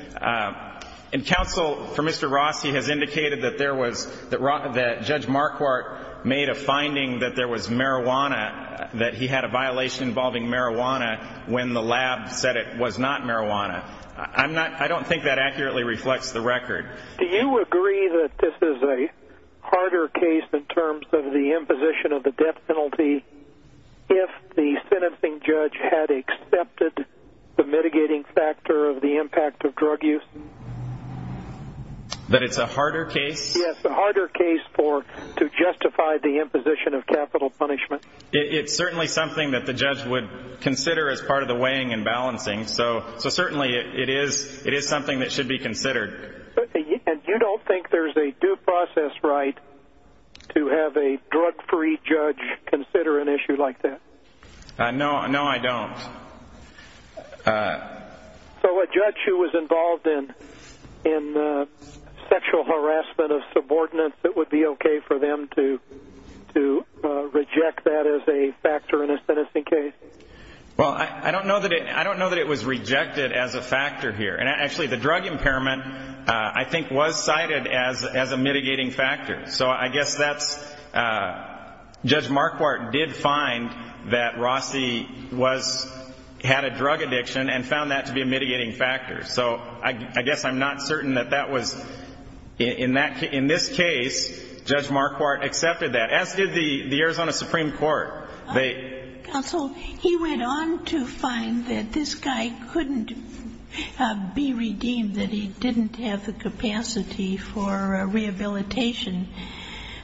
And counsel, for Mr. Ross, he has indicated that Judge Marquardt made a finding that there was marijuana, that he had a violation involving marijuana when the lab said it was not marijuana. I don't think that accurately reflects the record. Do you agree that this is a harder case in terms of the imposition of the death penalty if the sentencing judge had accepted the mitigating factor of the impact of drug use? That it's a harder case? Yes, a harder case to justify the imposition of capital punishment. It's certainly something that the judge would consider as part of the weighing and balancing. And you don't think there's a due process right to have a drug-free judge consider an issue like that? No, I don't. So a judge who was involved in sexual harassment of subordinates, it would be okay for them to reject that as a factor in a sentencing case? Well, I don't know that it was rejected as a factor here. And actually, the drug impairment, I think, was cited as a mitigating factor. So I guess that's, Judge Marquardt did find that Rossie had a drug addiction and found that to be a mitigating factor. So I guess I'm not certain that that was, in this case, Judge Marquardt accepted that, as did the Arizona Supreme Court. Counsel, he went on to find that this guy couldn't be redeemed, that he didn't have the capacity for rehabilitation.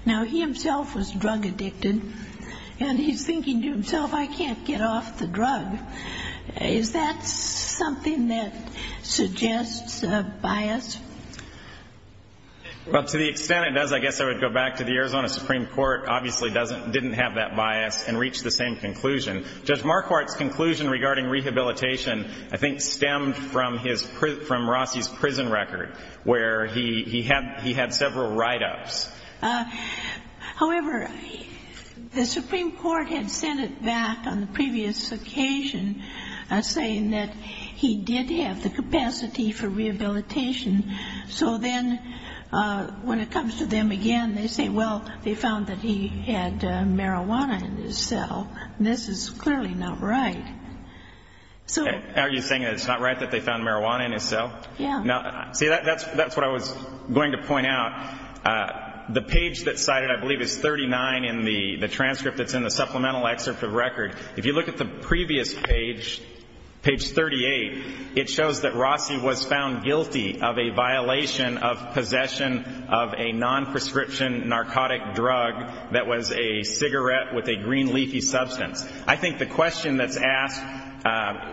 Now, he himself was drug addicted, and he's thinking to himself, I can't get off the drug. Is that something that suggests a bias? Well, to the extent it does, I guess I would go back to the Arizona Supreme Court. Obviously, didn't have that bias and reached the same conclusion. Judge Marquardt's conclusion regarding rehabilitation, I think, stemmed from Rossie's prison record, where he had several write-ups. However, the Supreme Court had sent it back on the previous occasion, saying that he did have the capacity for rehabilitation. So then, when it comes to them again, they say, well, they found that he had marijuana in his cell. This is clearly not right. Are you saying that it's not right that they found marijuana in his cell? Yeah. See, that's what I was going to point out. The page that's cited, I believe, is 39 in the transcript that's in the supplemental excerpt of record. If you look at the previous page, page 38, it shows that Rossie was found guilty of a violation of possession of a non-prescription narcotic drug that was a cigarette with a green leafy substance. I think the question that's asked,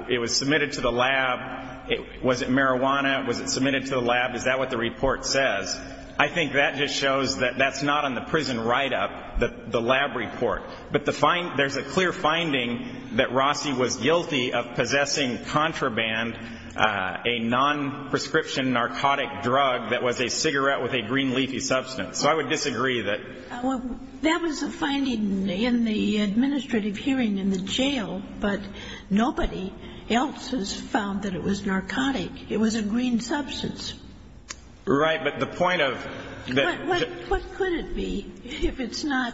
it was submitted to the lab, was it marijuana, was it submitted to the lab, is that what the report says? I think that just shows that that's not on the prison write-up, the lab report. But there's a clear finding that Rossie was guilty of possessing contraband, a non-prescription narcotic drug that was a cigarette with a green leafy substance. So I would disagree that. Well, that was a finding in the administrative hearing in the jail, but nobody else has found that it was narcotic. It was a green substance. Right. But the point of the... But what could it be if it's not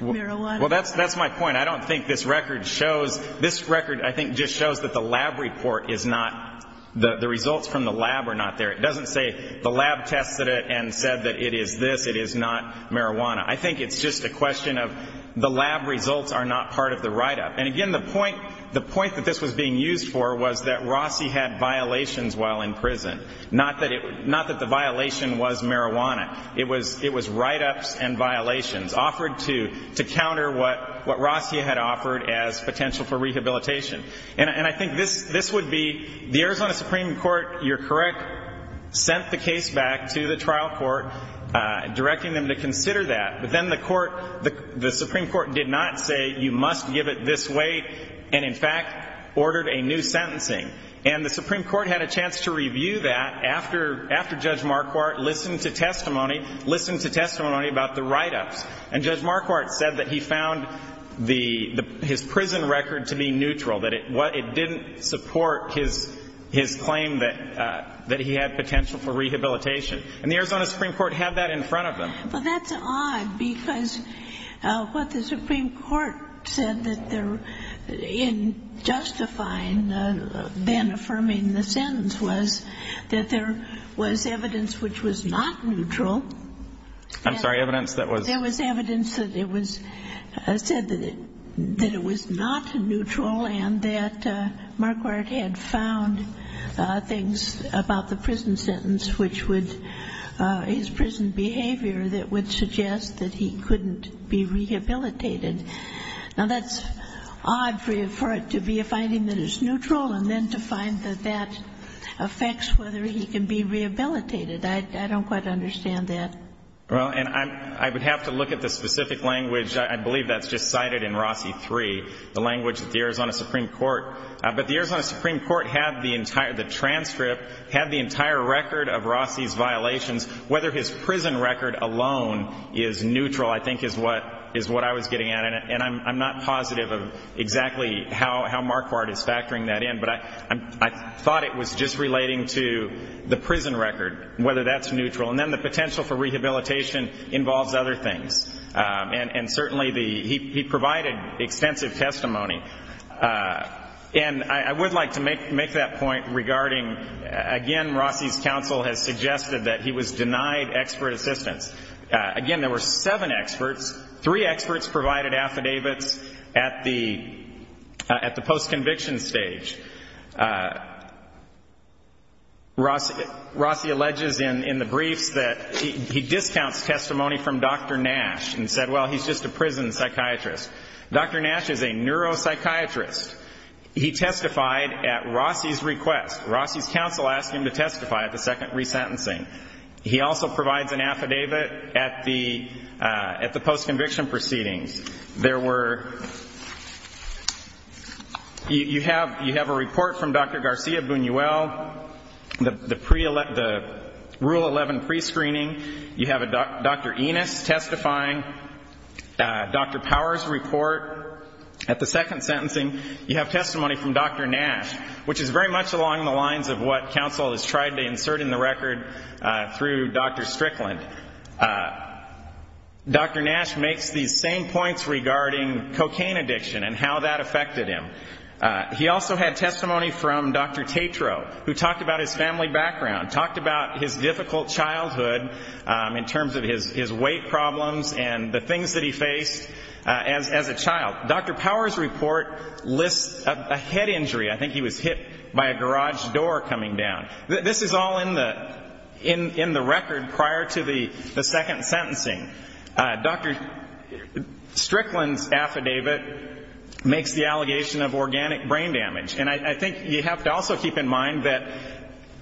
marijuana? Well, that's my point. I don't think this record shows. This record, I think, just shows that the lab report is not, the results from the lab are not there. It doesn't say the lab tested it and said that it is this, it is not marijuana. I think it's just a question of the lab results are not part of the write-up. And, again, the point that this was being used for was that Rossie had violations while in prison, not that the violation was marijuana. It was write-ups and violations offered to counter what Rossie had offered as potential for rehabilitation. And I think this would be the Arizona Supreme Court, you're correct, sent the case back to the trial court, directing them to consider that. But then the Supreme Court did not say you must give it this way and, in fact, ordered a new sentencing. And the Supreme Court had a chance to review that after Judge Marquardt listened to testimony, listened to testimony about the write-ups. And Judge Marquardt said that he found his prison record to be neutral, that it didn't support his claim that he had potential for rehabilitation. And the Arizona Supreme Court had that in front of them. Well, that's odd because what the Supreme Court said in justifying Ben affirming the sentence was that there was evidence which was not neutral. I'm sorry, evidence that was? There was evidence that it was said that it was not neutral and that Marquardt had found things about the prison sentence which would, his prison behavior that would suggest that he couldn't be rehabilitated. Now, that's odd for it to be a finding that it's neutral and then to find that that affects whether he can be rehabilitated. I don't quite understand that. Well, and I would have to look at the specific language. I believe that's just cited in Rossi III, the language of the Arizona Supreme Court. But the Arizona Supreme Court had the entire transcript, had the entire record of Rossi's violations. Whether his prison record alone is neutral, I think, is what I was getting at. And I'm not positive of exactly how Marquardt is factoring that in, but I thought it was just relating to the prison record, whether that's neutral. And then the potential for rehabilitation involves other things. And certainly he provided extensive testimony. And I would like to make that point regarding, again, Rossi's counsel has suggested that he was denied expert assistance. Again, there were seven experts. Three experts provided affidavits at the post-conviction stage. Rossi alleges in the briefs that he discounts testimony from Dr. Nash and said, well, he's just a prison psychiatrist. Dr. Nash is a neuropsychiatrist. He testified at Rossi's request. Rossi's counsel asked him to testify at the second resentencing. He also provides an affidavit at the post-conviction proceedings. You have a report from Dr. Garcia Buñuel, the Rule 11 prescreening. You have Dr. Enos testifying. Dr. Powers' report at the second sentencing. You have testimony from Dr. Nash, which is very much along the lines of what counsel has tried to insert in the record through Dr. Strickland. Dr. Nash makes these same points regarding cocaine addiction and how that affected him. He also had testimony from Dr. Tetreault, who talked about his family background, talked about his difficult childhood in terms of his weight problems and the things that he faced as a child. Dr. Powers' report lists a head injury. I think he was hit by a garage door coming down. This is all in the record prior to the second sentencing. Dr. Strickland's affidavit makes the allegation of organic brain damage. And I think you have to also keep in mind that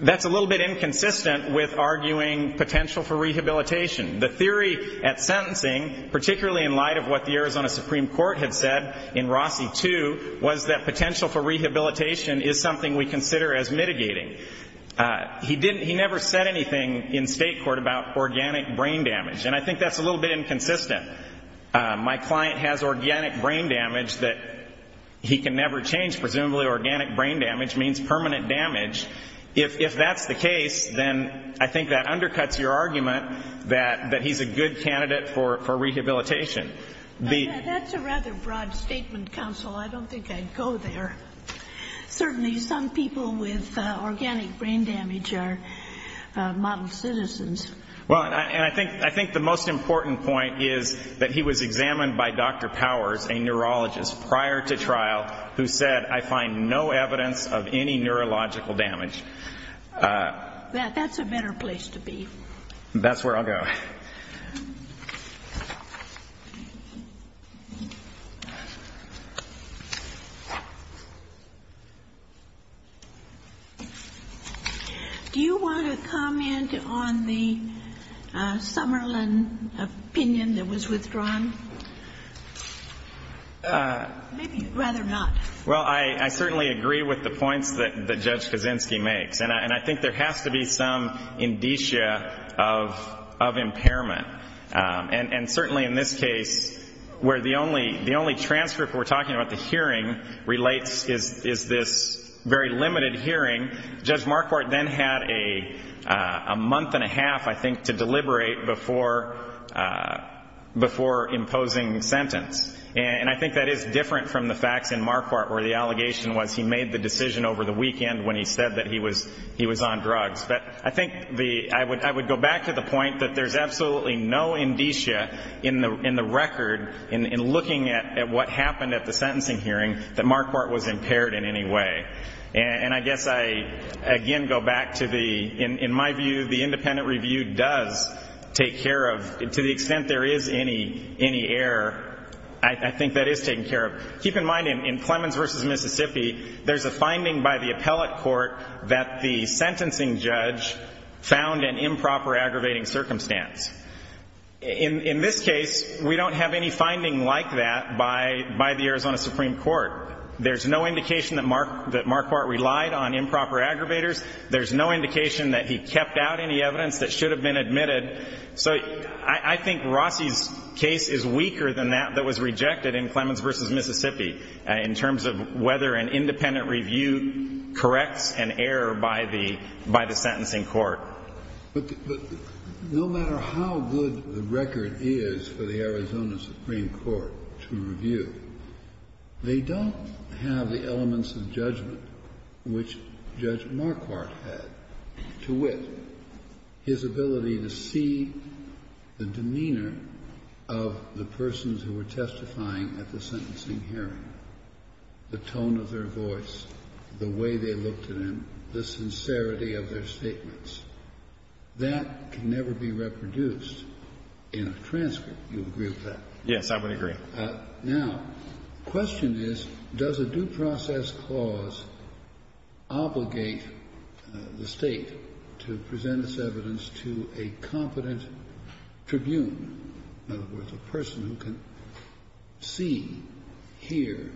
that's a little bit inconsistent with arguing potential for rehabilitation. The theory at sentencing, particularly in light of what the Arizona Supreme Court had said in Rossi 2, was that potential for rehabilitation is something we consider as mitigating. He never said anything in state court about organic brain damage. And I think that's a little bit inconsistent. My client has organic brain damage that he can never change. Presumably organic brain damage means permanent damage. If that's the case, then I think that undercuts your argument that he's a good candidate for rehabilitation. That's a rather broad statement, counsel. I don't think I'd go there. Certainly some people with organic brain damage are model citizens. Well, and I think the most important point is that he was examined by Dr. Powers, a neurologist, prior to trial, who said, I find no evidence of any neurological damage. That's a better place to be. That's where I'll go. Do you want to comment on the Summerlin opinion that was withdrawn? Maybe you'd rather not. Well, I certainly agree with the points that Judge Kaczynski makes. And I think there has to be some indicia of improvement. And certainly in this case, where the only transcript we're talking about, the hearing, relates is this very limited hearing. Judge Marquardt then had a month and a half, I think, to deliberate before imposing sentence. And I think that is different from the facts in Marquardt where the allegation was he made the decision over the weekend when he said that he was on drugs. But I think I would go back to the point that there's absolutely no indicia in the record in looking at what happened at the sentencing hearing that Marquardt was impaired in any way. And I guess I, again, go back to the, in my view, the independent review does take care of, to the extent there is any error, I think that is taken care of. Keep in mind, in Clemens v. Mississippi, there's a finding by the appellate court that the sentencing judge found an improper aggravating circumstance. In this case, we don't have any finding like that by the Arizona Supreme Court. There's no indication that Marquardt relied on improper aggravators. There's no indication that he kept out any evidence that should have been admitted. So I think Rossi's case is weaker than that that was rejected in Clemens v. Mississippi in terms of whether an independent review corrects an error by the sentencing court. But no matter how good the record is for the Arizona Supreme Court to review, they don't have the elements of judgment which Judge Marquardt had to wit, his ability to see the demeanor of the persons who were testifying at the sentencing hearing, the tone of their voice, the way they looked at him, the sincerity of their statements. That can never be reproduced in a transcript. Do you agree with that? Yes, I would agree. Now, the question is, does a due process clause obligate the State to present its evidence to a competent tribune, in other words, a person who can see, hear,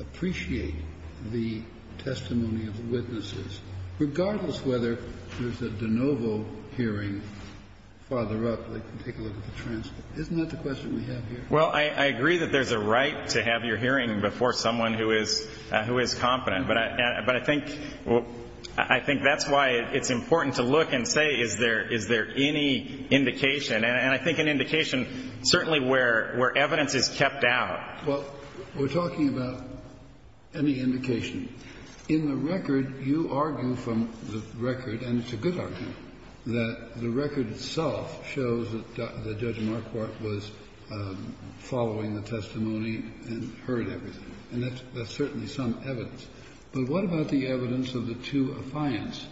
appreciate the testimony of witnesses, regardless whether there's a de novo hearing farther up that can take a look at the transcript? Isn't that the question we have here? Well, I agree that there's a right to have your hearing before someone who is competent. But I think that's why it's important to look and say, is there any indication? And I think an indication certainly where evidence is kept out. Well, we're talking about any indication. In the record, you argue from the record, and it's a good argument, that the record itself shows that Judge Marquardt was following the testimony and heard everything. And that's certainly some evidence. But what about the evidence of the two affiants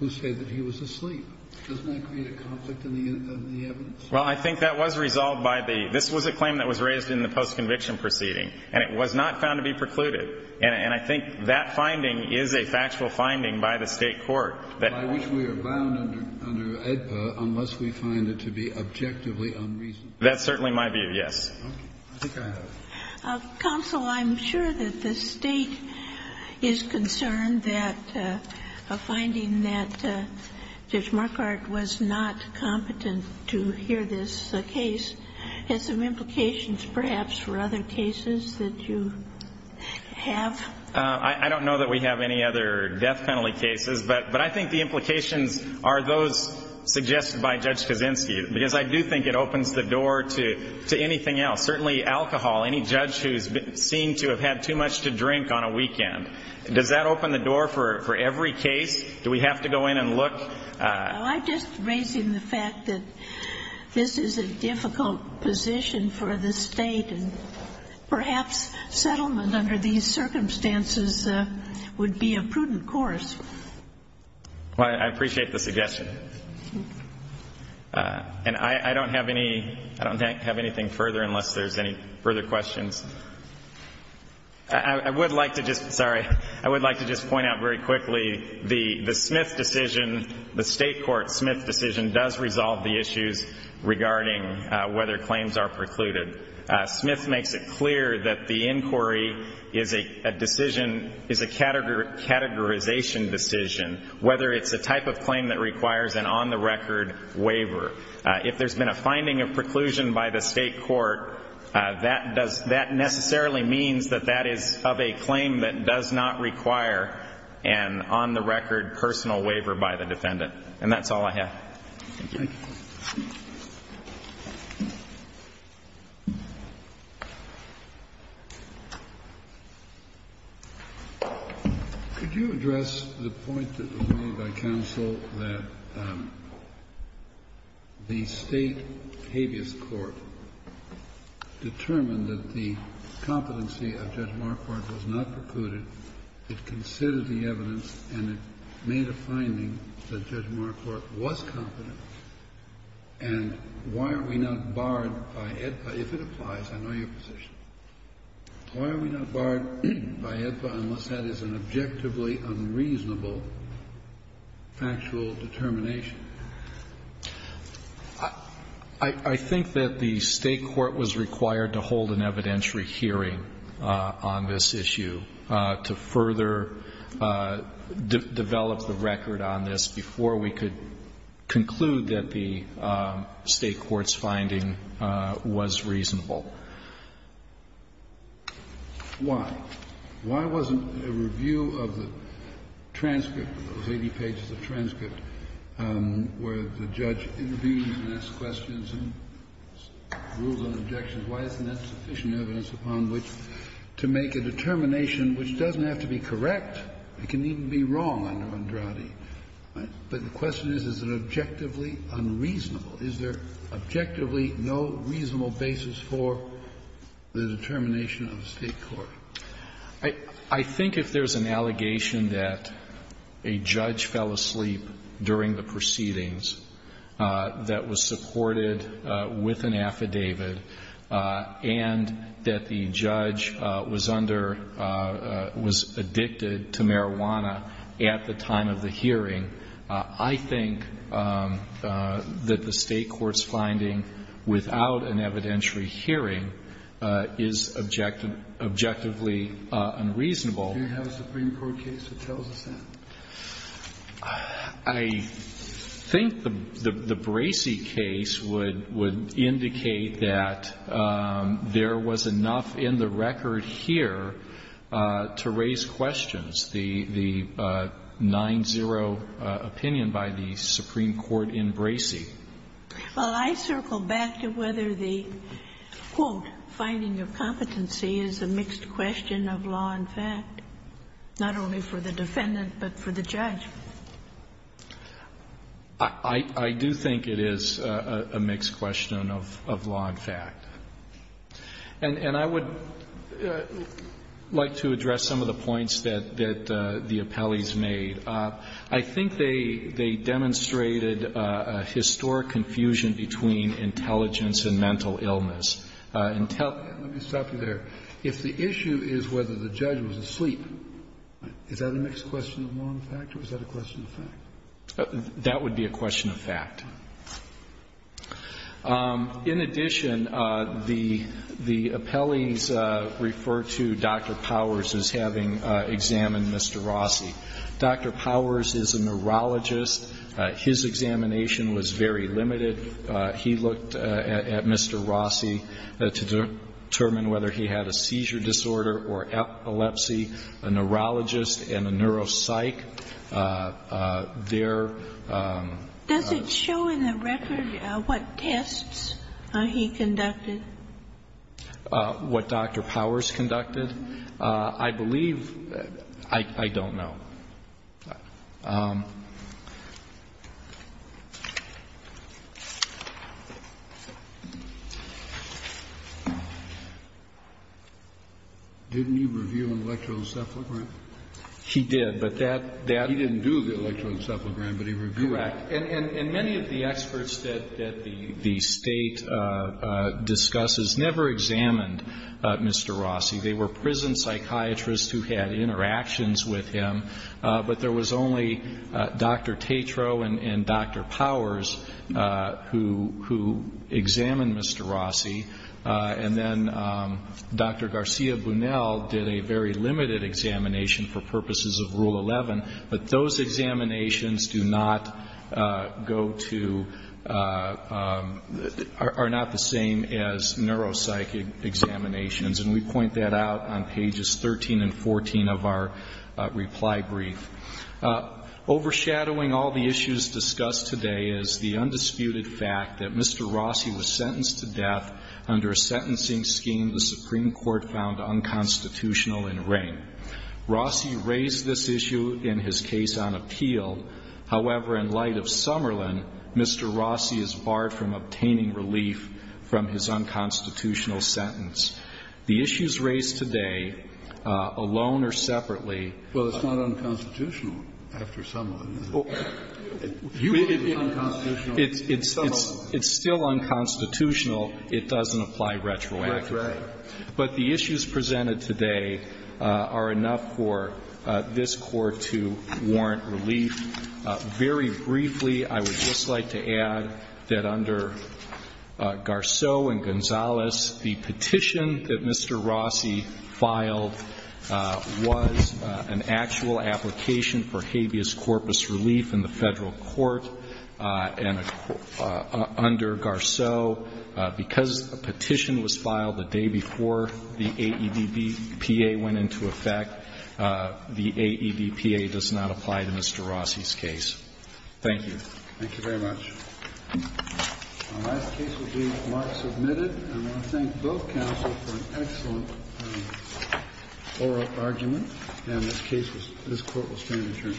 who say that he was asleep? Doesn't that create a conflict in the evidence? Well, I think that was resolved by the – this was a claim that was raised in the post-conviction proceeding, and it was not found to be precluded. And I think that finding is a factual finding by the State court. By which we are bound under AEDPA unless we find it to be objectively unreasonable. That's certainly my view, yes. Okay. I think I have it. Counsel, I'm sure that the State is concerned that a finding that Judge Marquardt was not competent to hear this case has some implications perhaps for other cases that you have. I don't know that we have any other death penalty cases, but I think the implications are those suggested by Judge Kaczynski. Because I do think it opens the door to anything else. Certainly alcohol. Any judge who's seen to have had too much to drink on a weekend. Does that open the door for every case? Do we have to go in and look? Well, I'm just raising the fact that this is a difficult position for the State, and perhaps settlement under these circumstances would be a prudent course. Well, I appreciate the suggestion. And I don't have any – I don't have anything further unless there's any further questions. I would like to just – sorry. I would like to just point out very quickly the Smith decision, the State court Smith decision, does resolve the issues regarding whether claims are precluded. Smith makes it clear that the inquiry is a decision – is a categorization decision, whether it's a type of claim that requires an on-the-record waiver. If there's been a finding of preclusion by the State court, that does – that necessarily means that that is of a claim that does not require an on-the-record personal waiver by the defendant. And that's all I have. Thank you. Thank you. Could you address the point that was made by counsel that the State habeas court determined that the competency of Judge Marquardt was not precluded, it considered the evidence, and it made a finding that Judge Marquardt was competent? And why are we not barred by AEDPA? If it applies, I know your position. Why are we not barred by AEDPA unless that is an objectively unreasonable factual determination? I think that the State court was required to hold an evidentiary hearing on this issue to further develop the record on this before we could conclude that the State court's finding was reasonable. Why? Why wasn't a review of the transcript, of those 80 pages of transcript, where the judge intervened and asked questions and ruled on objections, why isn't that sufficient evidence upon which to make a determination which doesn't have to be correct? It can even be wrong under Andrade. But the question is, is it objectively unreasonable? Is there objectively no reasonable basis for the determination of the State court? I think if there's an allegation that a judge fell asleep during the proceedings that was supported with an affidavit, and that the judge was under, was addicted to marijuana at the time of the hearing, I think that the State court's finding without an evidentiary hearing is objectively unreasonable. Do you have a Supreme Court case that tells us that? I think the Bracey case would indicate that there was enough in the record here to raise questions, the 9-0 opinion by the Supreme Court in Bracey. Well, I circle back to whether the, quote, finding of competency is a mixed question of law and fact, not only for the defendant but for the judge. I do think it is a mixed question of law and fact. And I would like to address some of the points that the appellees made. I think they demonstrated a historic confusion between intelligence and mental illness. Let me stop you there. If the issue is whether the judge was asleep, is that a mixed question of law and fact or is that a question of fact? That would be a question of fact. In addition, the appellees refer to Dr. Powers as having examined Mr. Rossi. Dr. Powers is a neurologist. His examination was very limited. He looked at Mr. Rossi to determine whether he had a seizure disorder or epilepsy, a neurologist and a neuropsych. Their ---- Does it show in the record what tests he conducted? What Dr. Powers conducted? I believe ---- I don't know. Didn't he review an electroencephalogram? He did, but that ---- He didn't do the electroencephalogram, but he reviewed it. Correct. And many of the experts that the State discusses never examined Mr. Rossi. They were prison psychiatrists who had interactions with him, but there was only Dr. Tatro and Dr. Powers who examined Mr. Rossi. And then Dr. Garcia-Bunel did a very limited examination for purposes of Rule 11, but those examinations do not go to ---- are not the same as neuropsych examinations. And we point that out on pages 13 and 14 of our reply brief. Overshadowing all the issues discussed today is the undisputed fact that Mr. Rossi was sentenced to death under a sentencing scheme the Supreme Court found unconstitutional in Rayne. Rossi raised this issue in his case on appeal. However, in light of Summerlin, Mr. Rossi is barred from obtaining relief from his unconstitutional sentence. The issues raised today, alone or separately. Well, it's not unconstitutional after Summerlin. You believe it's unconstitutional. It's still unconstitutional. It doesn't apply retroactively. That's right. But the issues presented today are enough for this Court to warrant relief. Very briefly, I would just like to add that under Garceau and Gonzalez, the petition that Mr. Rossi filed was an actual application for habeas corpus relief in the Federal Court. And under Garceau, because a petition was filed the day before the AEDPA went into effect, the AEDPA does not apply to Mr. Rossi's case. Thank you. Thank you very much. Our last case will be Mark Submitted. And I want to thank both counsels for an excellent oral argument. And this case, this Court will stand adjourned.